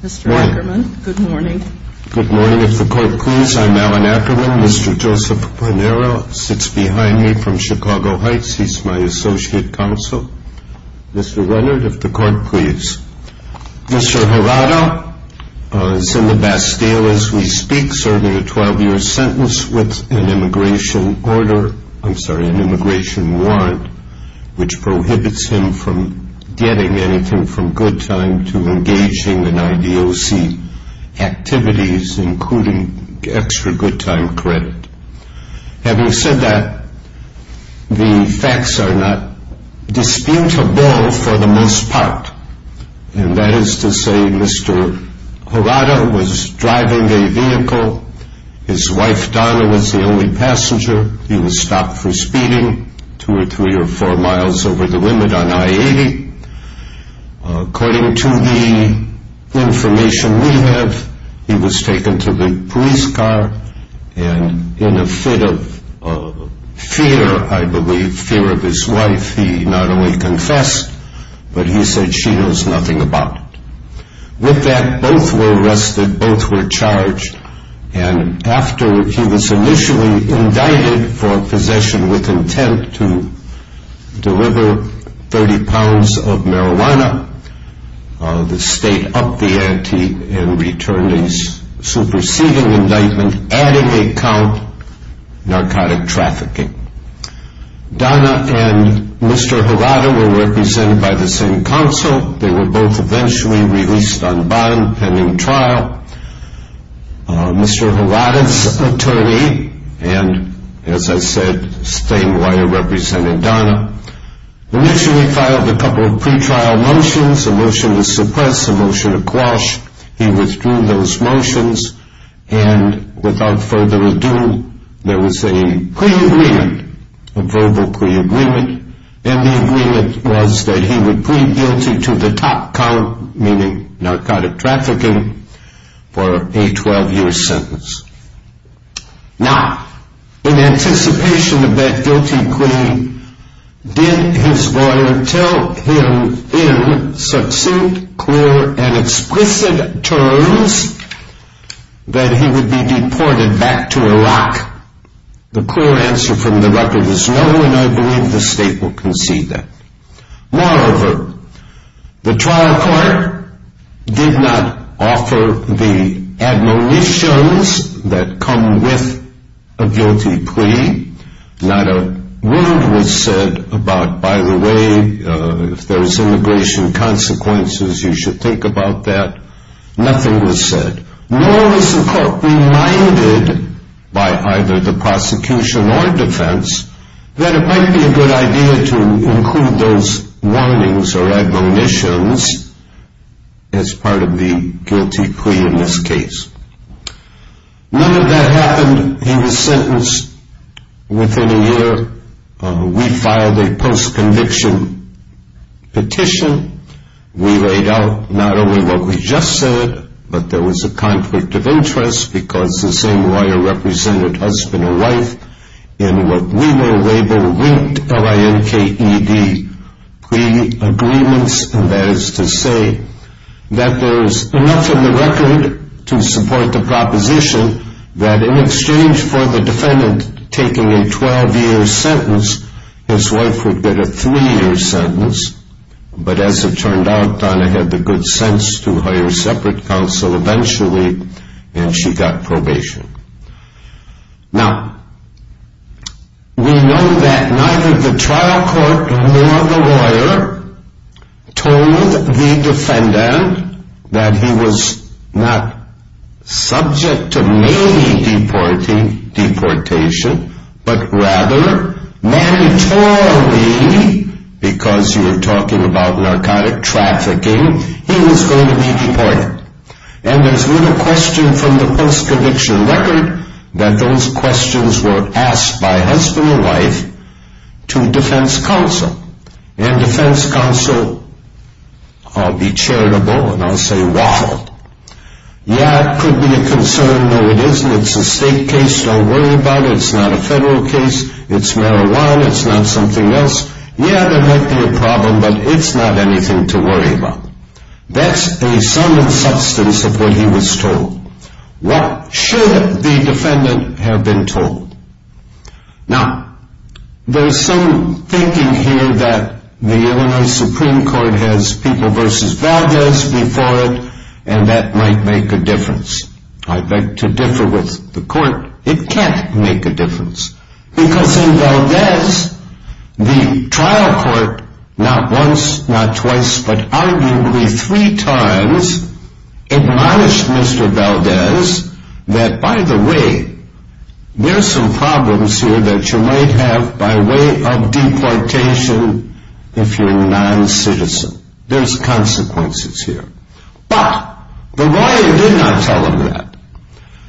Mr. Ackerman, good morning. Good morning. If the court please, I'm Alan Ackerman. Mr. Joseph Bonero sits behind me from Chicago Heights. He's my associate counsel. Mr. Leonard, if the court please. Mr. Horato, Senator Bastille as we speak, serving a 12-year sentence with an immigration order, I'm sorry, an immigration warrant, which prohibits him from getting anything from good time to engaging in IDOC activities, including extra good time credit. Having said that, the facts are not disputable for the most part. And that is to say Mr. Horato was driving a vehicle. His wife Donna was the only passenger. He was stopped for According to the information we have, he was taken to the police car and in a fit of fear, I believe, fear of his wife, he not only confessed, but he said she knows nothing about it. With that, both were arrested, both were charged, and after he was initially indicted for possession with intent to deliver 30 pounds of marijuana, the state upped the ante and returned his superseding indictment, adding a count, narcotic trafficking. Donna and Mr. Horato were represented by the same counsel. They were both eventually released on bond and in trial. Mr. Horato's lawyer represented Donna. Initially filed a couple of pre-trial motions, a motion to suppress, a motion to quash. He withdrew those motions and without further ado, there was a pre-agreement, a verbal pre-agreement, and the agreement was that he would plead guilty to the guilty plea. Did his lawyer tell him in such clear and explicit terms that he would be deported back to Iraq? The clear answer from the record is no, and I believe the state will concede that. Moreover, the trial court did not offer the admonitions that come with a guilty plea. Not a word was said about, by the way, if there's immigration consequences, you should think about that. Nothing was said. Nor was the court reminded by either the prosecution or defense that it might be a good idea to include those warnings or admonitions as part of the guilty plea in this case. None of that happened. He was sentenced within a year. We filed a post-conviction petition. We laid out not only what we just said, but there was a conflict of interest because the label linked LINKED pre-agreements, and that is to say that there's enough in the record to support the proposition that in exchange for the defendant taking a 12-year sentence, his wife would get a three-year sentence, but as it turned out, Donna had the good sense to hire separate counsel eventually, and she got probation. Now, we know that neither the trial court nor the lawyer told the defendant that he was not subject to mainly deportation, but rather mandatorily, because you are talking about narcotic trafficking, he was going to be deported, and there's little question from the post-conviction record that those questions were asked by husband and wife to defense counsel, and defense counsel, I'll be charitable, and I'll say waffle. Yeah, it could be a concern. No, it isn't. It's a state case. Don't worry about it. It's not a federal case. It's marijuana. It's not something else. Yeah, there might be a problem, but it's not anything to worry about. That's a sum and substance of what he was told. What should the defendant have been told? Now, there's some thinking here that the Illinois Supreme Court has people versus values before it, and that might make a difference. I'd like to differ with the court. It can't make a difference, because in Valdez, the trial court not once, not twice, but arguably three times admonished Mr. Valdez that, by the way, there's some problems here that you might have by way of deportation if you're a non-citizen. There's consequences here, but the lawyer did not tell him that.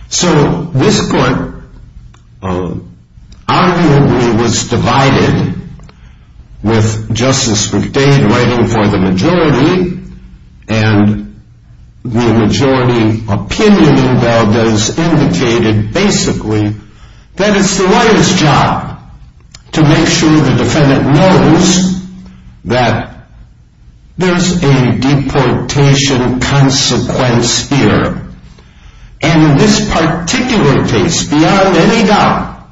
So this court arguably was divided with Justice McDade writing for the majority, and the majority opinion in Valdez indicated basically that it's the lawyer's job to make sure the defendant knows that there's a deportation consequence here, and in this particular case, beyond any doubt,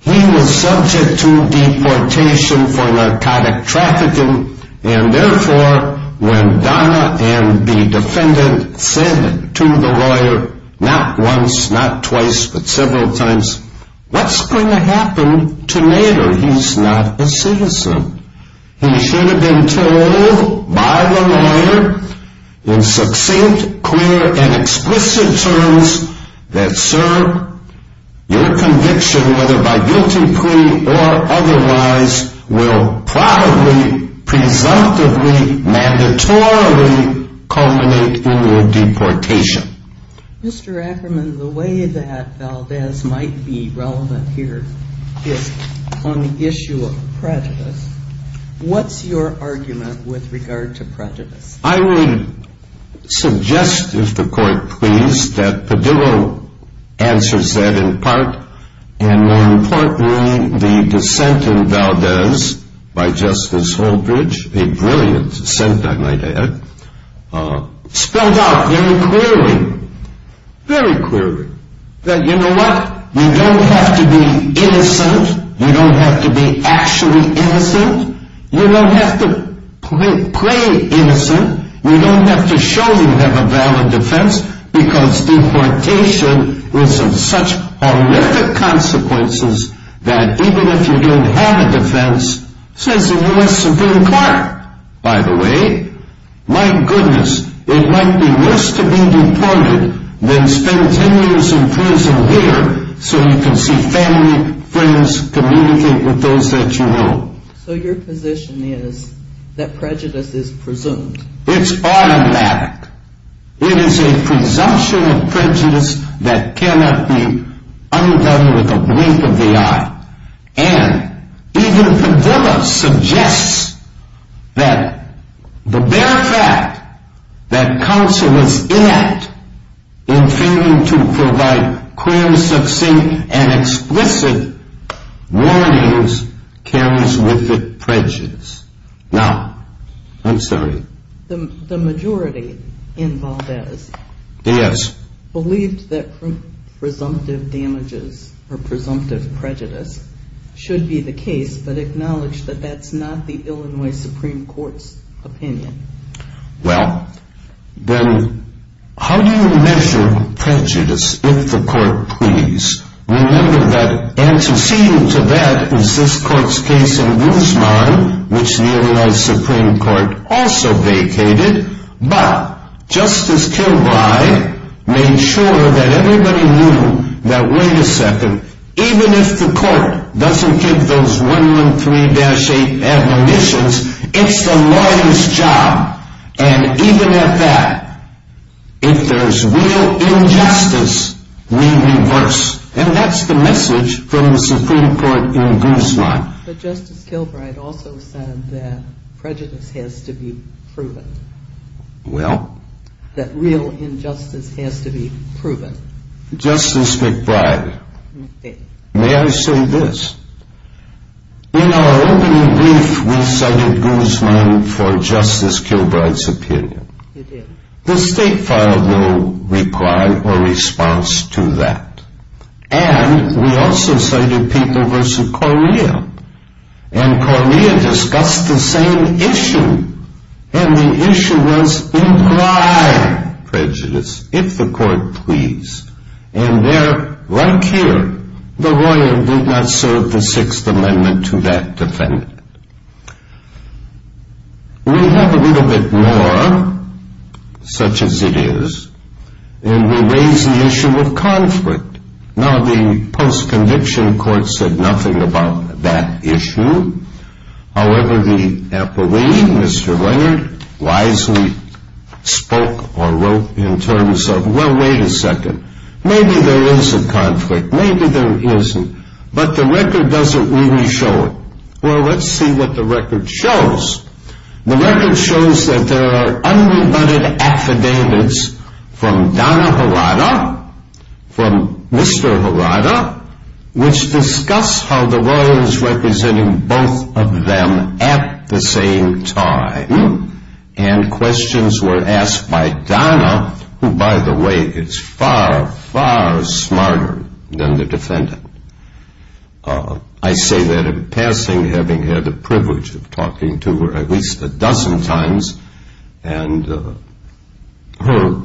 he was subject to deportation for narcotic trafficking, and therefore, when Donna and the defendant said to the lawyer, not once, not twice, but several times, what's going to happen to Nader? He's not a citizen. He should have been told by the lawyer in succinct, clear, and explicit terms that, sir, your conviction, whether by guilty plea or otherwise, will probably, presumptively, mandatorily culminate in your deportation. Mr. Ackerman, the way that Valdez might be relevant here is on the issue of prejudice. What's your argument with regard to prejudice? I would suggest, if the court please, that Padillo answers that in part, and more importantly, the dissent in Valdez by Justice Holdridge, a brilliant dissent, I might add, spelled out very clearly, very clearly, that you know what? You don't have to be innocent. You don't have to be actually innocent. You don't have to play innocent. You don't have to show you have a valid defense, because deportation will have such horrific consequences that even if you don't have a defense, says the U.S. Supreme Court, by the way, my goodness, it might be worse to be deported than spend 10 years in prison here so you can see family, friends, communicate with those that you know. So your position is that prejudice is presumed? It's automatic. It is a presumption of prejudice that cannot be that the bare fact that counsel is inept in failing to provide clear, succinct, and explicit warnings carries with it prejudice. Now, I'm sorry. The majority in Valdez believed that presumptive damages or presumptive prejudice should be the case, but acknowledged that that's not the Illinois Supreme Court's opinion. Well, then how do you measure prejudice if the court please? Remember that antecedent to that is this court's case in Guzman, which the Illinois Supreme Court also vacated, but Justice Kilbride made sure that everybody knew that, wait a second, even if the court doesn't give those 113-8 admonitions, it's the lawyer's job, and even at that, if there's real injustice, we reverse, and that's the message from the Supreme Court in Guzman. But Justice Kilbride also said that prejudice has to be proven. Well? That real injustice has to be proven. Justice McBride, may I say this? In our opening brief, we cited Guzman for Justice Kilbride's opinion. You did. The state filed no reply or response to that, and we also cited people versus Correa, and Correa discussed the same issue, and the issue was imply prejudice, if the court please. And there, like here, the lawyer did not serve the Sixth Amendment to that defendant. We have a little bit more, such as it is, and we raise the issue of conflict. Now, the post-conviction court said nothing about that issue. However, the appellee, Mr. Leonard, wisely spoke or wrote in terms of, well, wait a second, maybe there is a conflict, maybe there isn't, but the record doesn't really show it. Well, let's see what the record shows. The record shows that there are unrebutted affidavits from Donna Harada, from Mr. Harada, which discuss how the lawyer is representing both of them at the same time. And questions were asked by Donna, who, by the way, is far, far smarter than the defendant. I say that in passing, having had the privilege of talking to her at least a dozen times, and her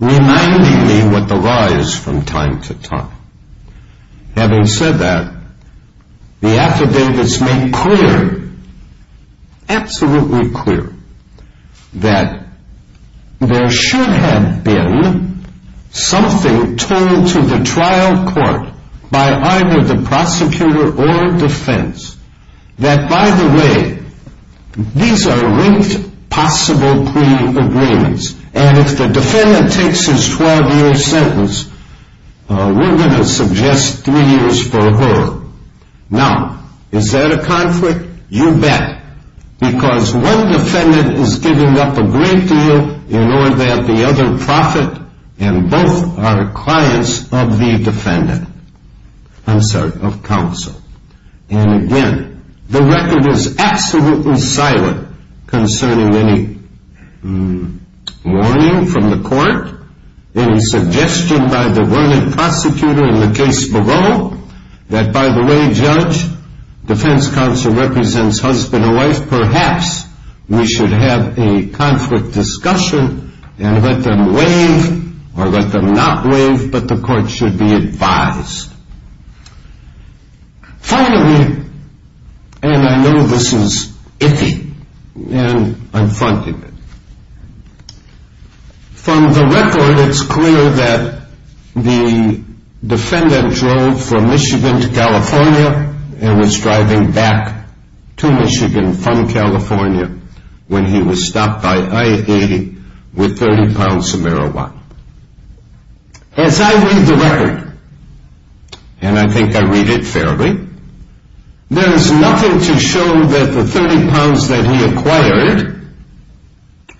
reminding me what the law is from time to time. Having said that, the affidavits make clear, absolutely clear, that there should have been something told to the trial court by either the prosecutor or defense that, by the way, these are linked possible pre-agreements, and if the defendant takes his 12-year sentence, we're going to suggest three years for her. Now, is that a conflict? You bet, because one defendant is giving up a great deal in order that the other profit, and both are clients of the defendant. I'm sorry, of counsel. And again, the record is absolutely silent concerning any warning from the court, any suggestion by the Vernon prosecutor in the case below, that by the way, Judge, defense counsel represents husband and wife, perhaps we should have a conflict discussion and let them waive or let them not waive, but the court should be advised. Finally, and I know this is icky, and I'm fronting it, from the record, it's clear that the defendant drove from Michigan to California and was driving back to Michigan from California when he was stopped by I-80 with 30 pounds of marijuana. As I read the record, and I think I read it fairly, there is nothing to show that the 30 pounds that he acquired,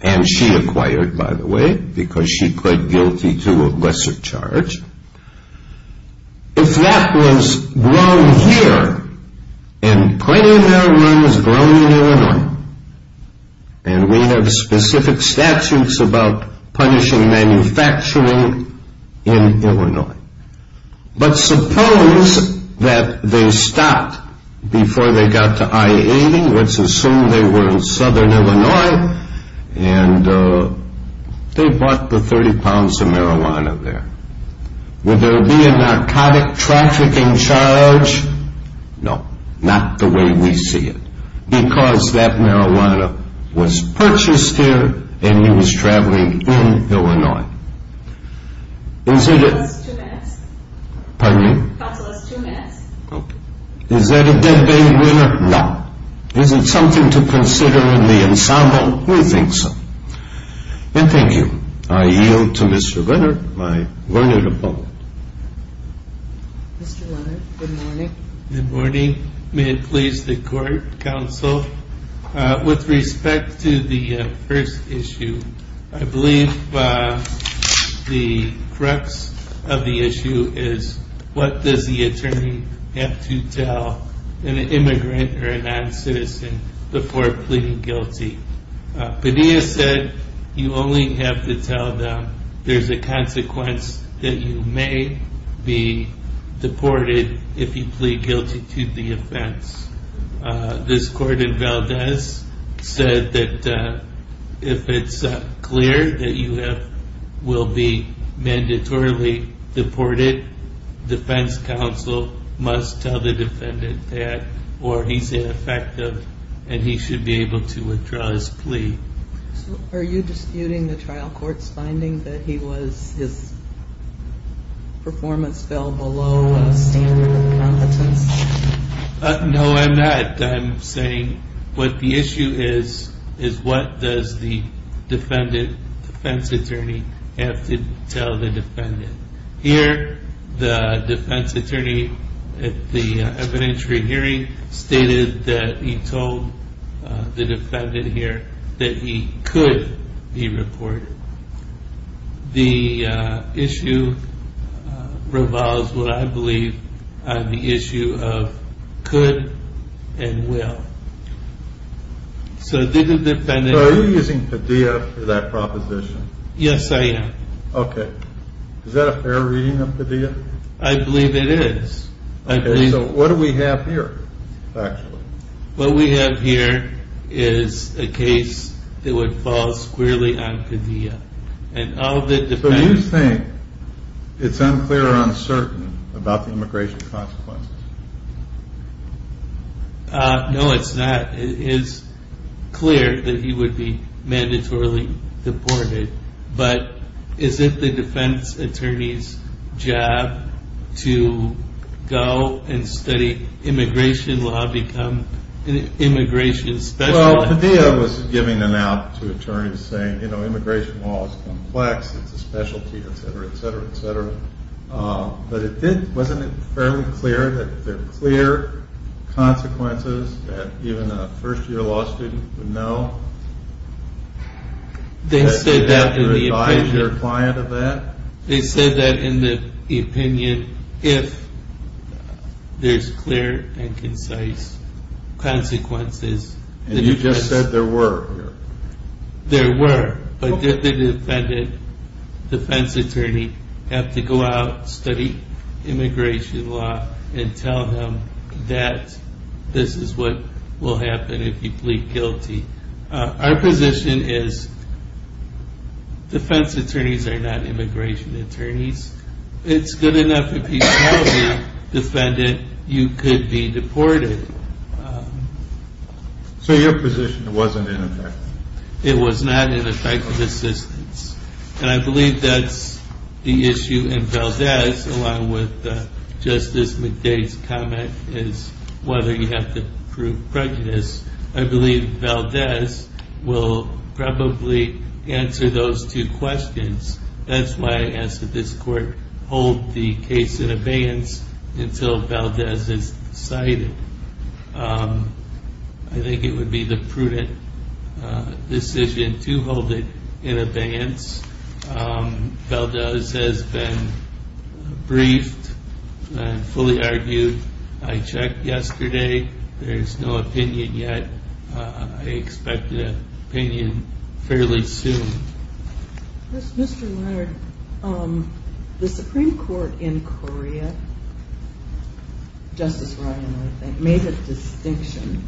and she acquired, by the way, because she pled guilty to a lesser charge, if that was grown here, and plenty of marijuana is grown in Illinois, and we have specific statutes about punishing manufacturing in Illinois, but suppose that they stopped before they got to I-80, let's assume they were in southern Illinois, and they bought the 30 pounds of marijuana there. Would there be a narcotic trafficking charge? No. Not the way we see it. Because that marijuana was purchased here and he was traveling in Illinois. Is that a dead bait winner? No. Is it something to consider in the ensemble we think so. And thank you. I yield to Mr. Leonard, my learned opponent. Mr. Leonard, good morning. Good morning. May it please the court, counsel, with respect to the first issue, I believe the crux of the issue is what does the attorney have to tell an immigrant or a non-citizen before pleading guilty? Padilla said you only have to tell them there's a consequence that you may be deported if you plead guilty to the offense. This court in Valdez said that if it's clear that you will be mandatorily deported, defense counsel must tell the defendant that or he's ineffective and he should be able to withdraw his plea. Are you disputing the trial court's finding that his performance fell below a standard of competence? No, I'm not. I'm saying what the issue is is what does the defense attorney have to tell the defendant? The defense attorney stated that he told the defendant here that he could be deported. The issue revolves what I believe on the issue of could and will. So are you using Padilla for that proposition? Yes, I am. Okay. Is that a fair reading of Padilla? I believe it is. Okay, so what do we have here? What we have here is a case that would fall squarely on Padilla. Do you think it's unclear or uncertain about the immigration consequences? No, it's not. It is clear that he would be mandatorily deported, but is it the defense attorney's job to go and study immigration law, become an immigration specialist? Well, Padilla was giving an out to attorneys saying, you know, immigration law is complex. It's a specialty, etc., etc., etc. But wasn't it fairly clear that there are clear consequences that even a first client of that? They said that in the opinion, if there's clear and concise consequences. And you just said there were? There were, but did the defendant, defense attorney, have to go out, study immigration law, and tell him that this is what will happen if he pleads guilty? Our position is defense attorneys are not immigration attorneys. It's good enough if you tell the defendant you could be deported. So your position wasn't in effect? It was not in effect of assistance. And I believe that's the issue in Valdez, along with Justice McDade's comment, is whether you have to prove prejudice. I believe Valdez will probably answer those two questions. That's why I asked that this court hold the case in abeyance until Valdez is decided. I think it would be the prudent decision to hold it in abeyance. Valdez has been briefed and fully argued. I checked yesterday. There's no opinion yet. I expect an opinion fairly soon. Mr. Leonard, the Supreme Court in Korea, Justice Ryan, I think, made a distinction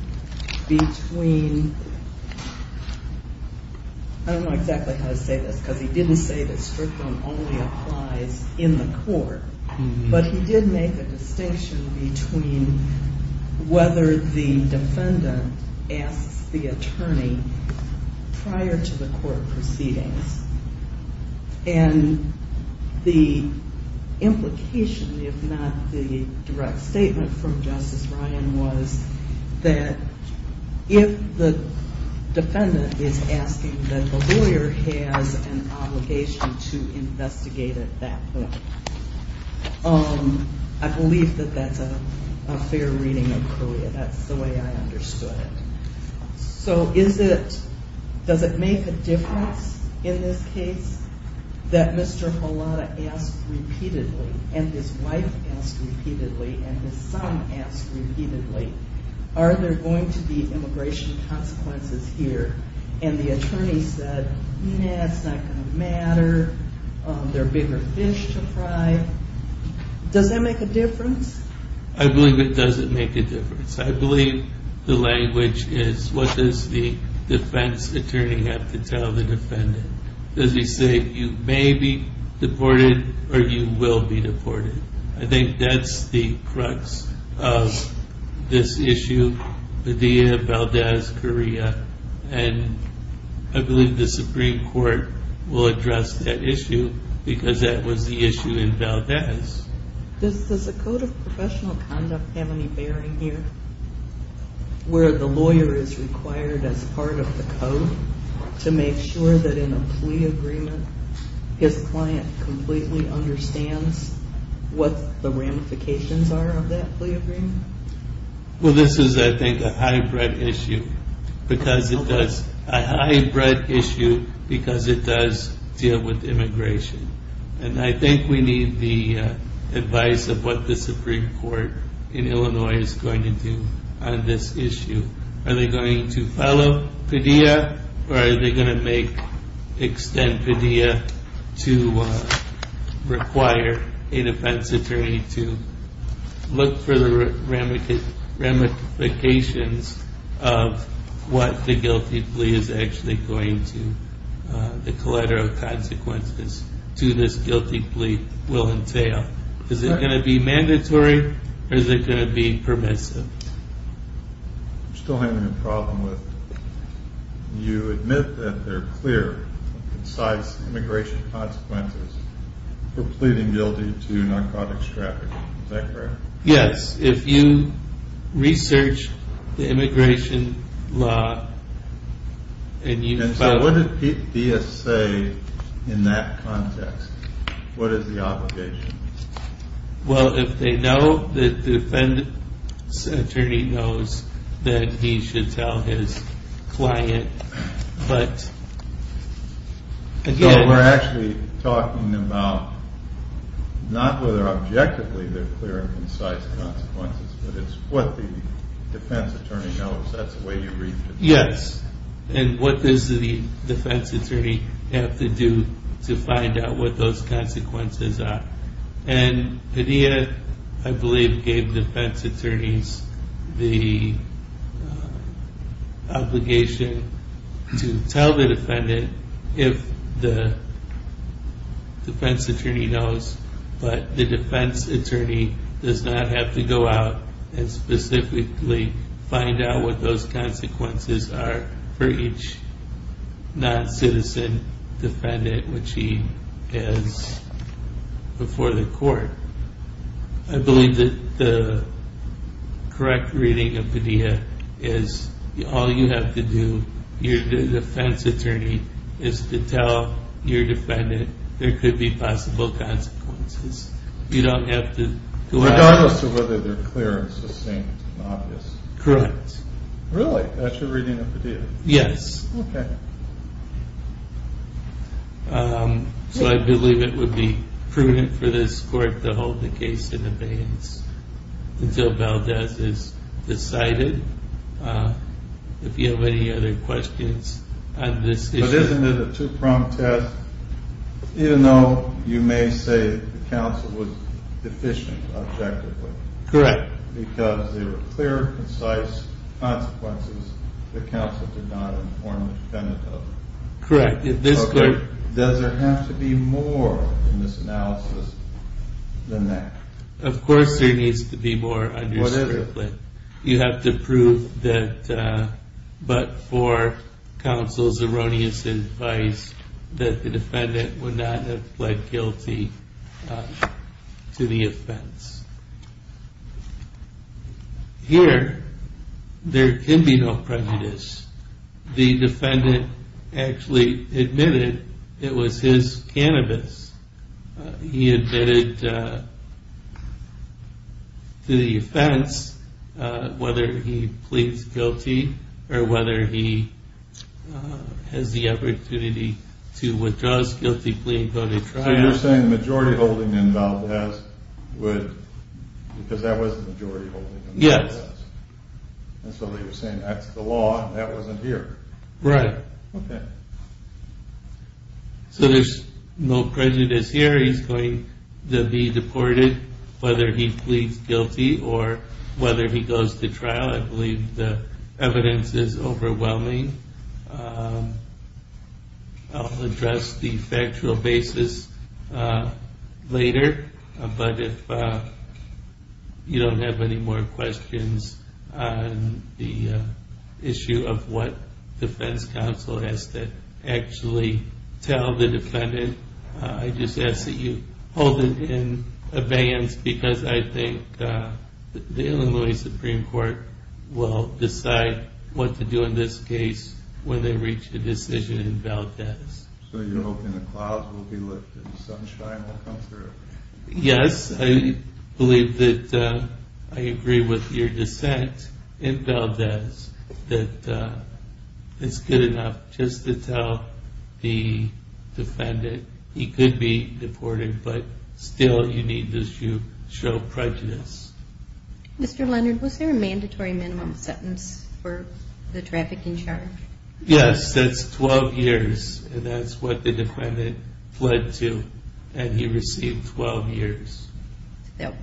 between, I don't know exactly how to say this, because he didn't say that strictum only applies in the court. But he did make a distinction between whether the defendant asks the attorney prior to the court proceedings. And the implication, if not the direct statement from Justice Ryan, was that if the defendant is asking that the lawyer has an obligation to investigate at that point, I believe that that's a fair reading of Korea. That's the way I understood it. So does it make a difference in this case that Mr. Halada asked repeatedly, and his wife asked repeatedly, and his son asked repeatedly, are there going to be immigration consequences here? And the attorney said, nah, it's not going to matter. There are bigger fish to fry. Does that make a difference? I believe it doesn't make a difference. I believe the language is, what does the defense attorney have to tell the defendant? Does he say, you may be deported or you will be deported? I think that's the crux of this issue, the idea of Valdez, Korea. And I believe the Supreme Court will address that issue, because that was the issue in Valdez. Does the Code of Professional Conduct have any bearing here, where the lawyer is required as part of the code to make sure that in a plea agreement, his client completely understands what the ramifications are of that plea agreement? Well, this is, I think, a hybrid issue, because it does deal with immigration. And I think we need the advice of what the Supreme Court in Illinois is going to do on this issue. Are they going to pedia, or are they going to make, extend pedia to require a defense attorney to look for the ramifications of what the guilty plea is actually going to, the collateral consequences to this guilty plea will entail? Is it going to be mandatory, or is it going to be permissive? I'm still having a problem with, you admit that they're clear, concise immigration consequences for pleading guilty to narcotics trafficking, is that correct? Yes, if you research the immigration law, and you... And so what did pedia say in that context? What is the obligation? Well, if they know, the defense attorney knows that he should tell his client, but again... So we're actually talking about, not whether objectively they're clear and concise consequences, but it's what the defense attorney knows, that's the way you read the... Yes, and what does the defense attorney have to do to find out what those consequences are? And pedia, I believe, gave defense attorneys the obligation to tell the defendant if the defense attorney knows, but the defense attorney does not have to go out and specifically find out what those consequences are for each non-citizen defendant, which he has before the court. I believe that the correct reading of pedia is, all you have to do, your defense attorney is to tell your defendant there could be possible consequences. You don't have to go out... Regardless of whether they're clear and sustained in office. Correct. Really? That's your reading of pedia? Yes. Okay. So I believe it would be prudent for this court to hold the case in abeyance until Valdez is decided. If you have any other questions on this issue... But isn't it a two-prong test, even though you may say the counsel was deficient objectively? Correct. Because there were clear, concise consequences the counsel did not inform the defendant of? Correct. Does there have to be more in this analysis than that? Of course there needs to be more. What is it? You have to prove that, but for counsel's erroneous advice, that the defendant would not have pled guilty to the offense. Here, there can be no prejudice. The defendant actually admitted it was his cannabis. He admitted to the offense, whether he pleads guilty, or whether he has the opportunity to withdraw his guilty plea and go to trial. So you're saying the majority holding in Valdez would... Because that was the majority holding in Valdez? Yes. And so you're saying that's the law, and that wasn't here? Right. So there's no prejudice here. He's going to be deported, whether he pleads guilty, or whether he goes to trial. I believe the evidence is overwhelming. I'll address the factual basis later, but if you don't have any more questions on the issue of what defense counsel has to actually tell the defendant, I just ask that you hold it in advance, because I think the Illinois Supreme Court will decide what to do in this case when they reach a decision in Valdez. So you're hoping the clouds will be lifted, sunshine will come through? Yes, I believe that I agree with your dissent in Valdez, that it's good enough just to tell the defendant he could be deported, but still you need to show prejudice. Mr. Leonard, was there a mandatory minimum sentence for the trafficking charge? Yes, that's 12 years, and that's what the defendant fled to, and he received 12 years. That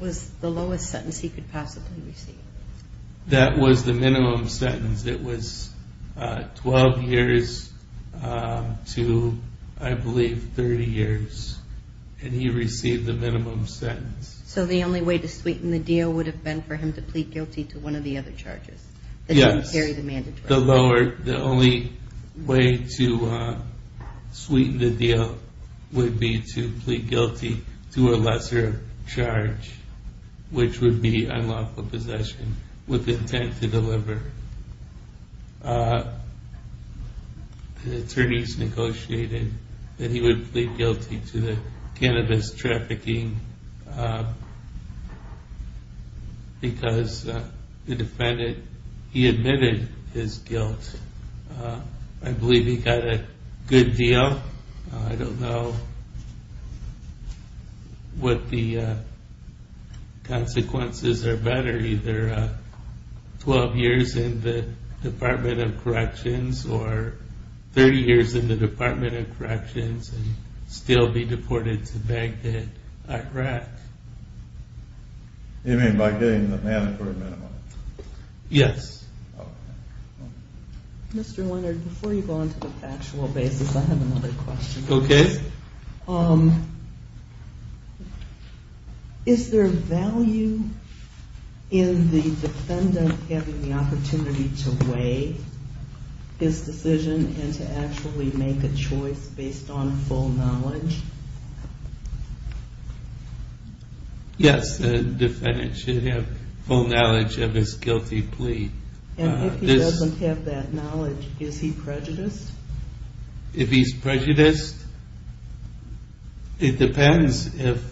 was the lowest sentence he could possibly receive? That was the minimum sentence. It was 12 years to, I believe, 30 years, and he received the minimum sentence. So the only way to sweeten the deal would have been for him to plead guilty to one of the other charges? Yes, the only way to sweeten the deal would be to plead guilty to a lesser charge, which would be unlawful possession with intent to deliver. The attorneys negotiated that he would plead guilty to the cannabis trafficking because the defendant, he admitted his guilt. I believe he got a good deal. I don't know what the consequences are better, either 12 years in the Department of Corrections or 30 years in the Department of Corrections and still be deported to Baghdad, Iraq. You mean by getting the mandatory minimum? Yes. Mr. Leonard, before you go on to the factual basis, I have another question. Okay. Is there value in the defendant having the opportunity to weigh his decision and to actually make a choice based on full knowledge? Yes, the defendant should have full knowledge of his guilty plea. And if he doesn't have that knowledge, is he prejudiced? If he's prejudiced, it depends if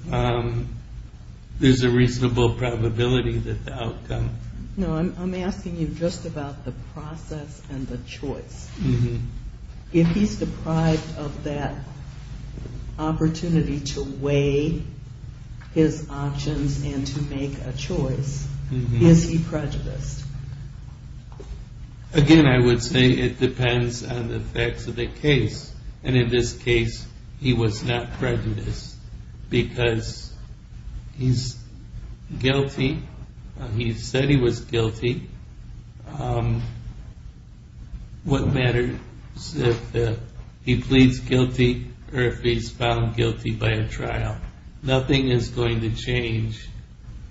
there's a reasonable probability that the outcome... No, I'm asking you just about the process and the choice. If he's deprived of that probability. Again, I would say it depends on the facts of the case. And in this case, he was not prejudiced because he's guilty. He said he was guilty. What matters if he pleads guilty or if he's found guilty by a trial, nothing is going to change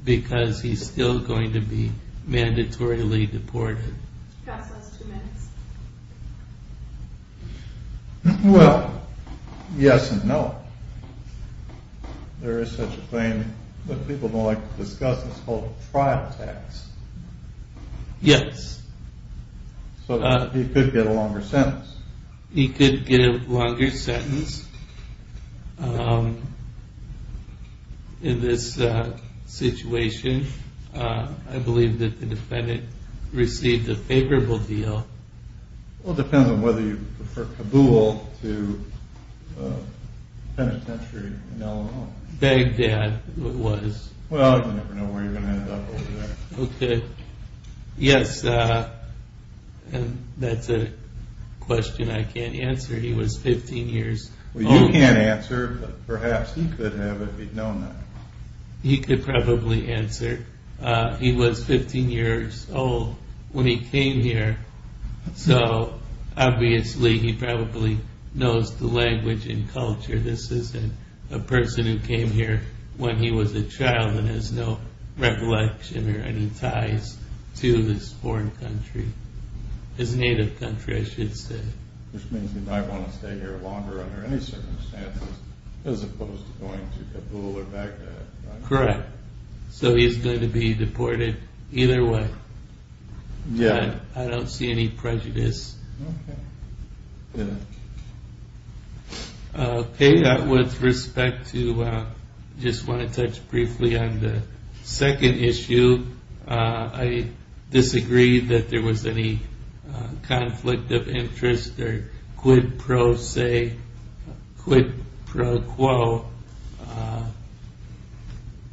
because he's still going to be mandatorily deported. Well, yes and no. There is such a thing that people don't like to discuss. It's called trial tax. Yes. So he could get a longer sentence. He could get a longer sentence. In this situation, I believe that the defendant received a favorable deal. Well, it depends on whether you prefer Kabul to Penitentiary in Illinois. Baghdad it was. Well, you never know where you're going to end up over there. Okay. Yes. And that's a question I can't answer. He was 15 years. Well, you can't answer, but perhaps he could have if he'd known that. He could probably answer. He was 15 years old when he came here. So obviously, he probably knows the language and culture. This isn't a person who came here when he was a child and has no recollection or any ties to this foreign country, his native country, I should say. Which means he might want to stay here longer under any circumstances, as opposed to going to Kabul or Baghdad. Correct. So he's going to be deported either way. I don't see any prejudice. Okay. Okay. With respect to, I just want to touch briefly on the second issue. I disagree that there was any conflict of interest or quid pro quo or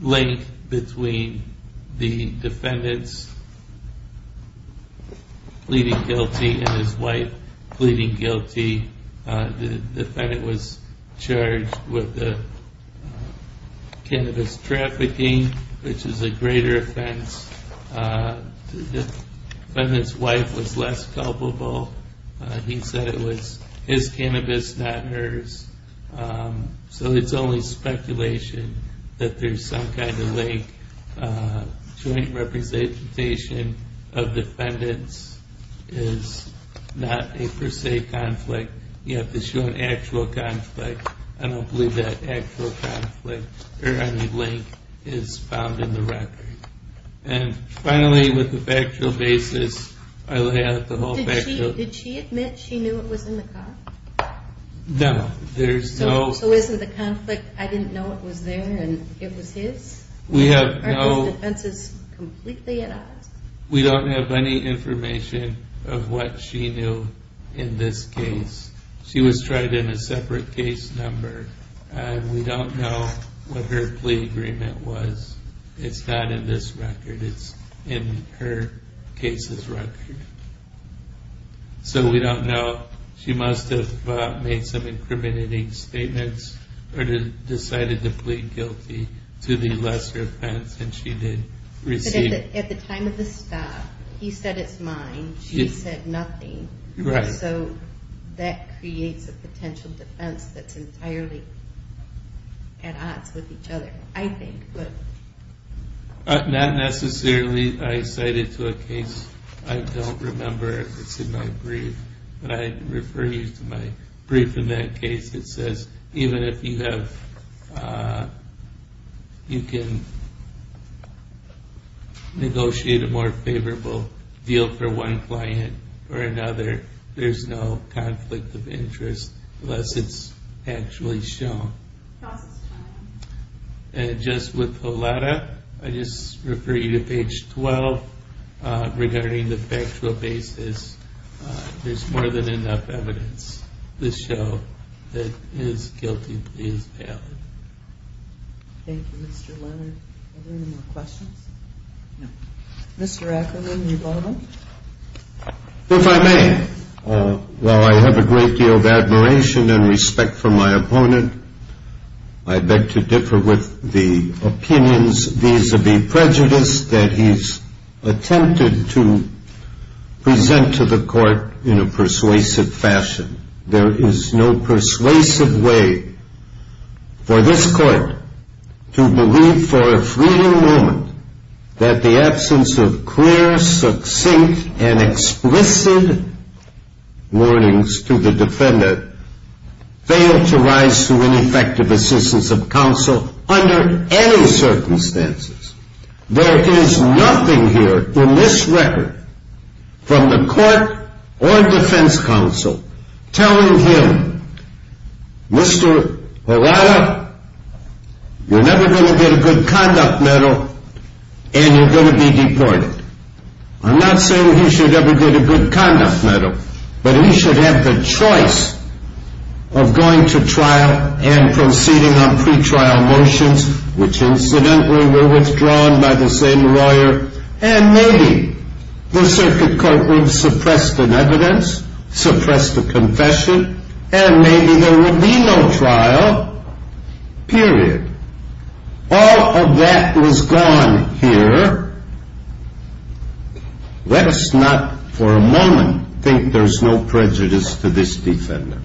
link between the defendant's pleading guilty and his wife pleading guilty. The defendant was charged with the cannabis trafficking, which is a greater offense. The defendant's wife was less culpable. He said it was his cannabis, not hers. So it's only speculation that there's some kind of link. Joint representation of defendants is not a per se conflict. You have to show an actual conflict. I don't believe that actual conflict or any link is found in the record. And finally, with the factual basis, I lay out the whole factual... Did she admit she knew it was in the car? No, there's no... So isn't the conflict, I didn't know it was there and it was his? We have no... Are those defenses completely at odds? We don't have any information of what she knew in this case. She was tried in a separate case number and we don't know what her plea agreement was. And so we don't know. She must have made some incriminating statements or decided to plead guilty to the lesser offense and she did receive... At the time of the stop, he said it's mine, she said nothing. So that creates a potential defense that's entirely at odds with each other, I think. But... Not necessarily. I cited to a case, I don't remember if it's in my brief, but I refer you to my brief in that case. It says even if you have... You can negotiate a more favorable deal for one client or another, there's no conflict of interest unless it's actually shown. Counsel's time. And just with the letter, I just refer you to page 12 regarding the factual basis. There's more than enough evidence to show that his guilty plea is valid. Thank you, Mr. Leonard. Are there any more questions? No. Mr. Ackerman, do you want to go? If I may. While I have a great deal of admiration and respect for my opponent, I beg to differ with the opinions vis-a-vis prejudice that he's attempted to present to the court in a persuasive fashion. There is no persuasive way for this court to believe for a fleeting moment that the absence of clear, succinct, and explicit warnings to the defendant failed to rise to an effective assistance of counsel under any circumstances. There is nothing here in this record from the court or defense counsel telling him, Mr. Arada, you're never going to get a good conduct medal, and you're going to be deported. I'm not saying he should ever get a good conduct medal, but he should have the choice of going to trial and proceeding on pre-trial motions, which incidentally were withdrawn by the same lawyer, and maybe the circuit court would suppress the evidence, suppress the confession, and maybe there would be no trial, period. All of that was gone here. Let us not for a moment think there's no prejudice to this defender.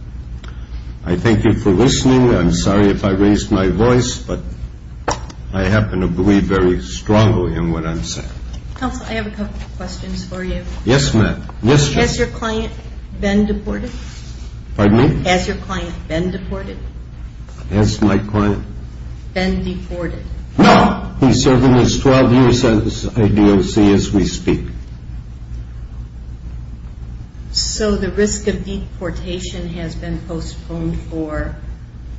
I thank you for listening. I'm sorry if I raised my voice, but I happen to believe very strongly in what I'm saying. Counsel, I have a couple of questions for you. Yes, ma'am. Yes, ma'am. Has your client been deported? Pardon me? Has your client been deported? Has my client? Been deported? No. He's serving his 12 years as ADOC as we speak. So the risk of deportation has been postponed for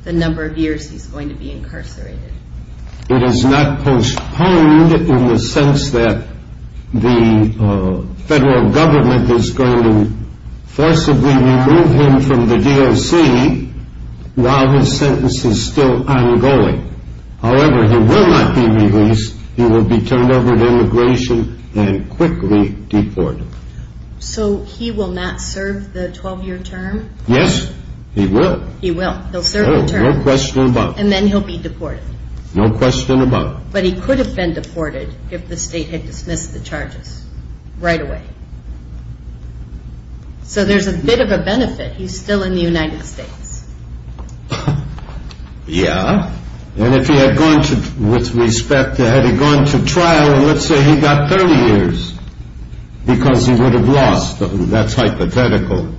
the number of years he's going to be incarcerated? It has not postponed in the sense that the federal government is going to forcibly remove him from the DOC while his sentence is still ongoing. However, he will not be released. He will be turned over to immigration and quickly deported. So he will not serve the 12-year term? Yes, he will. He will. He'll serve the term? No question about it. And then he'll be deported? No question about it. But he could have been deported if the state had dismissed the charges right away. So there's a bit of a benefit. He's still in the United States. Yeah. And if he had gone to, with respect, had he gone to trial, let's say he got 30 years because he would have lost, that's hypothetical.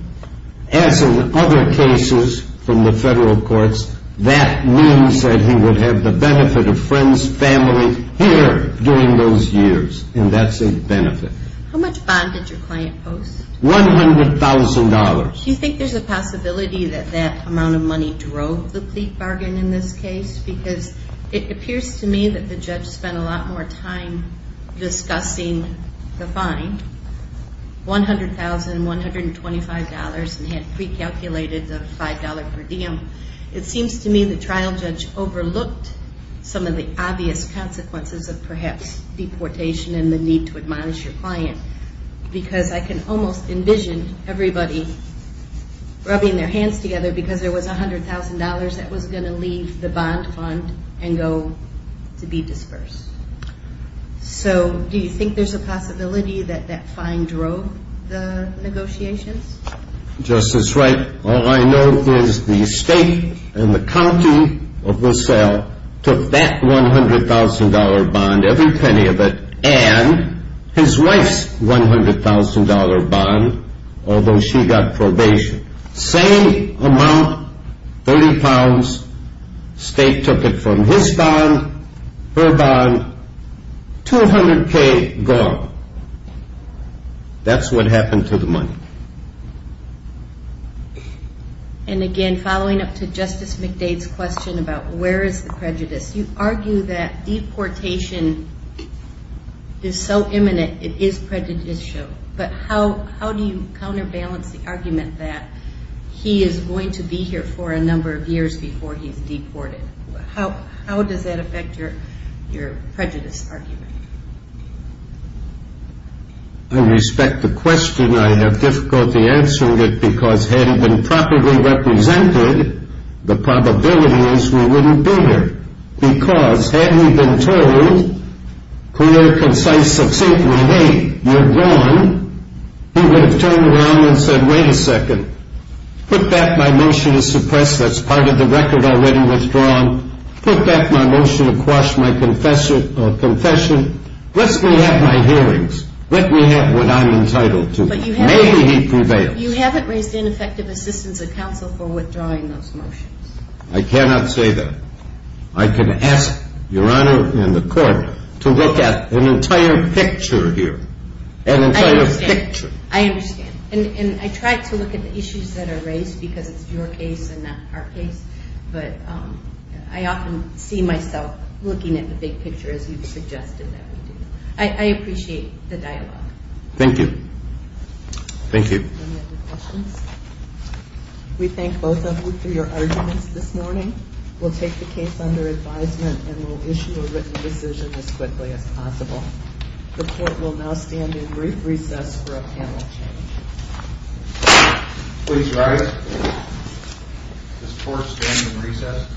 As in other cases from the federal courts, that means that he would have the benefit of friends, family here during those years. And that's a benefit. How much bond did your client post? One hundred thousand dollars. Do you think there's a possibility that that amount of money drove the plea bargain in this case? Because it appears to me that the judge spent a lot more time discussing the fine. One hundred thousand, one hundred and twenty-five dollars and had pre-calculated the five dollar per diem. It seems to me the trial judge overlooked some of the obvious consequences of perhaps deportation and the need to admonish your client. Because I can almost envision everybody rubbing their hands together because there was a hundred thousand dollars that was going to leave the bond fund and go to be dispersed. So, do you think there's a possibility that that fine drove the negotiations? Justice Wright, all I know is the state and the county of LaSalle took that one hundred thousand dollar bond, every penny of it, and his wife's one hundred thousand dollar bond, although she got probation. Same amount, thirty pounds, state took it from his bond, her bond, two hundred K gone. That's what happened to the money. And again, following up to Justice McDade's question about where is the prejudice, you argue that deportation is so imminent it is prejudicial. But how do you counterbalance the argument that he is going to be here for a number of years before he's deported? How does that affect your prejudice argument? I respect the question. I have difficulty answering it because had it been properly represented, the probability is we wouldn't be here. Because had we been told, clear, concise, succinctly, hey, you're gone, he would have turned around and said, wait a second, put back my motion to suppress, that's part of the record already withdrawn, put back my motion to quash my confession, let me have my hearings, let me have what I'm entitled to. Maybe he prevails. But you haven't raised ineffective assistance of counsel for withdrawing those motions. I cannot say that. I can ask Your Honor and the court to look at an entire picture here, an entire picture. I understand. And I tried to look at the issues that are raised because it's your case and not our case. But I often see myself looking at the big picture, as you've suggested that we do. I appreciate the dialogue. Thank you. Thank you. We thank both of you for your arguments this morning. We'll take the case under advisement and we'll issue a written decision as quickly as possible. The court will now stand in brief recess for a panel change. Please rise. Does the court stand in recess?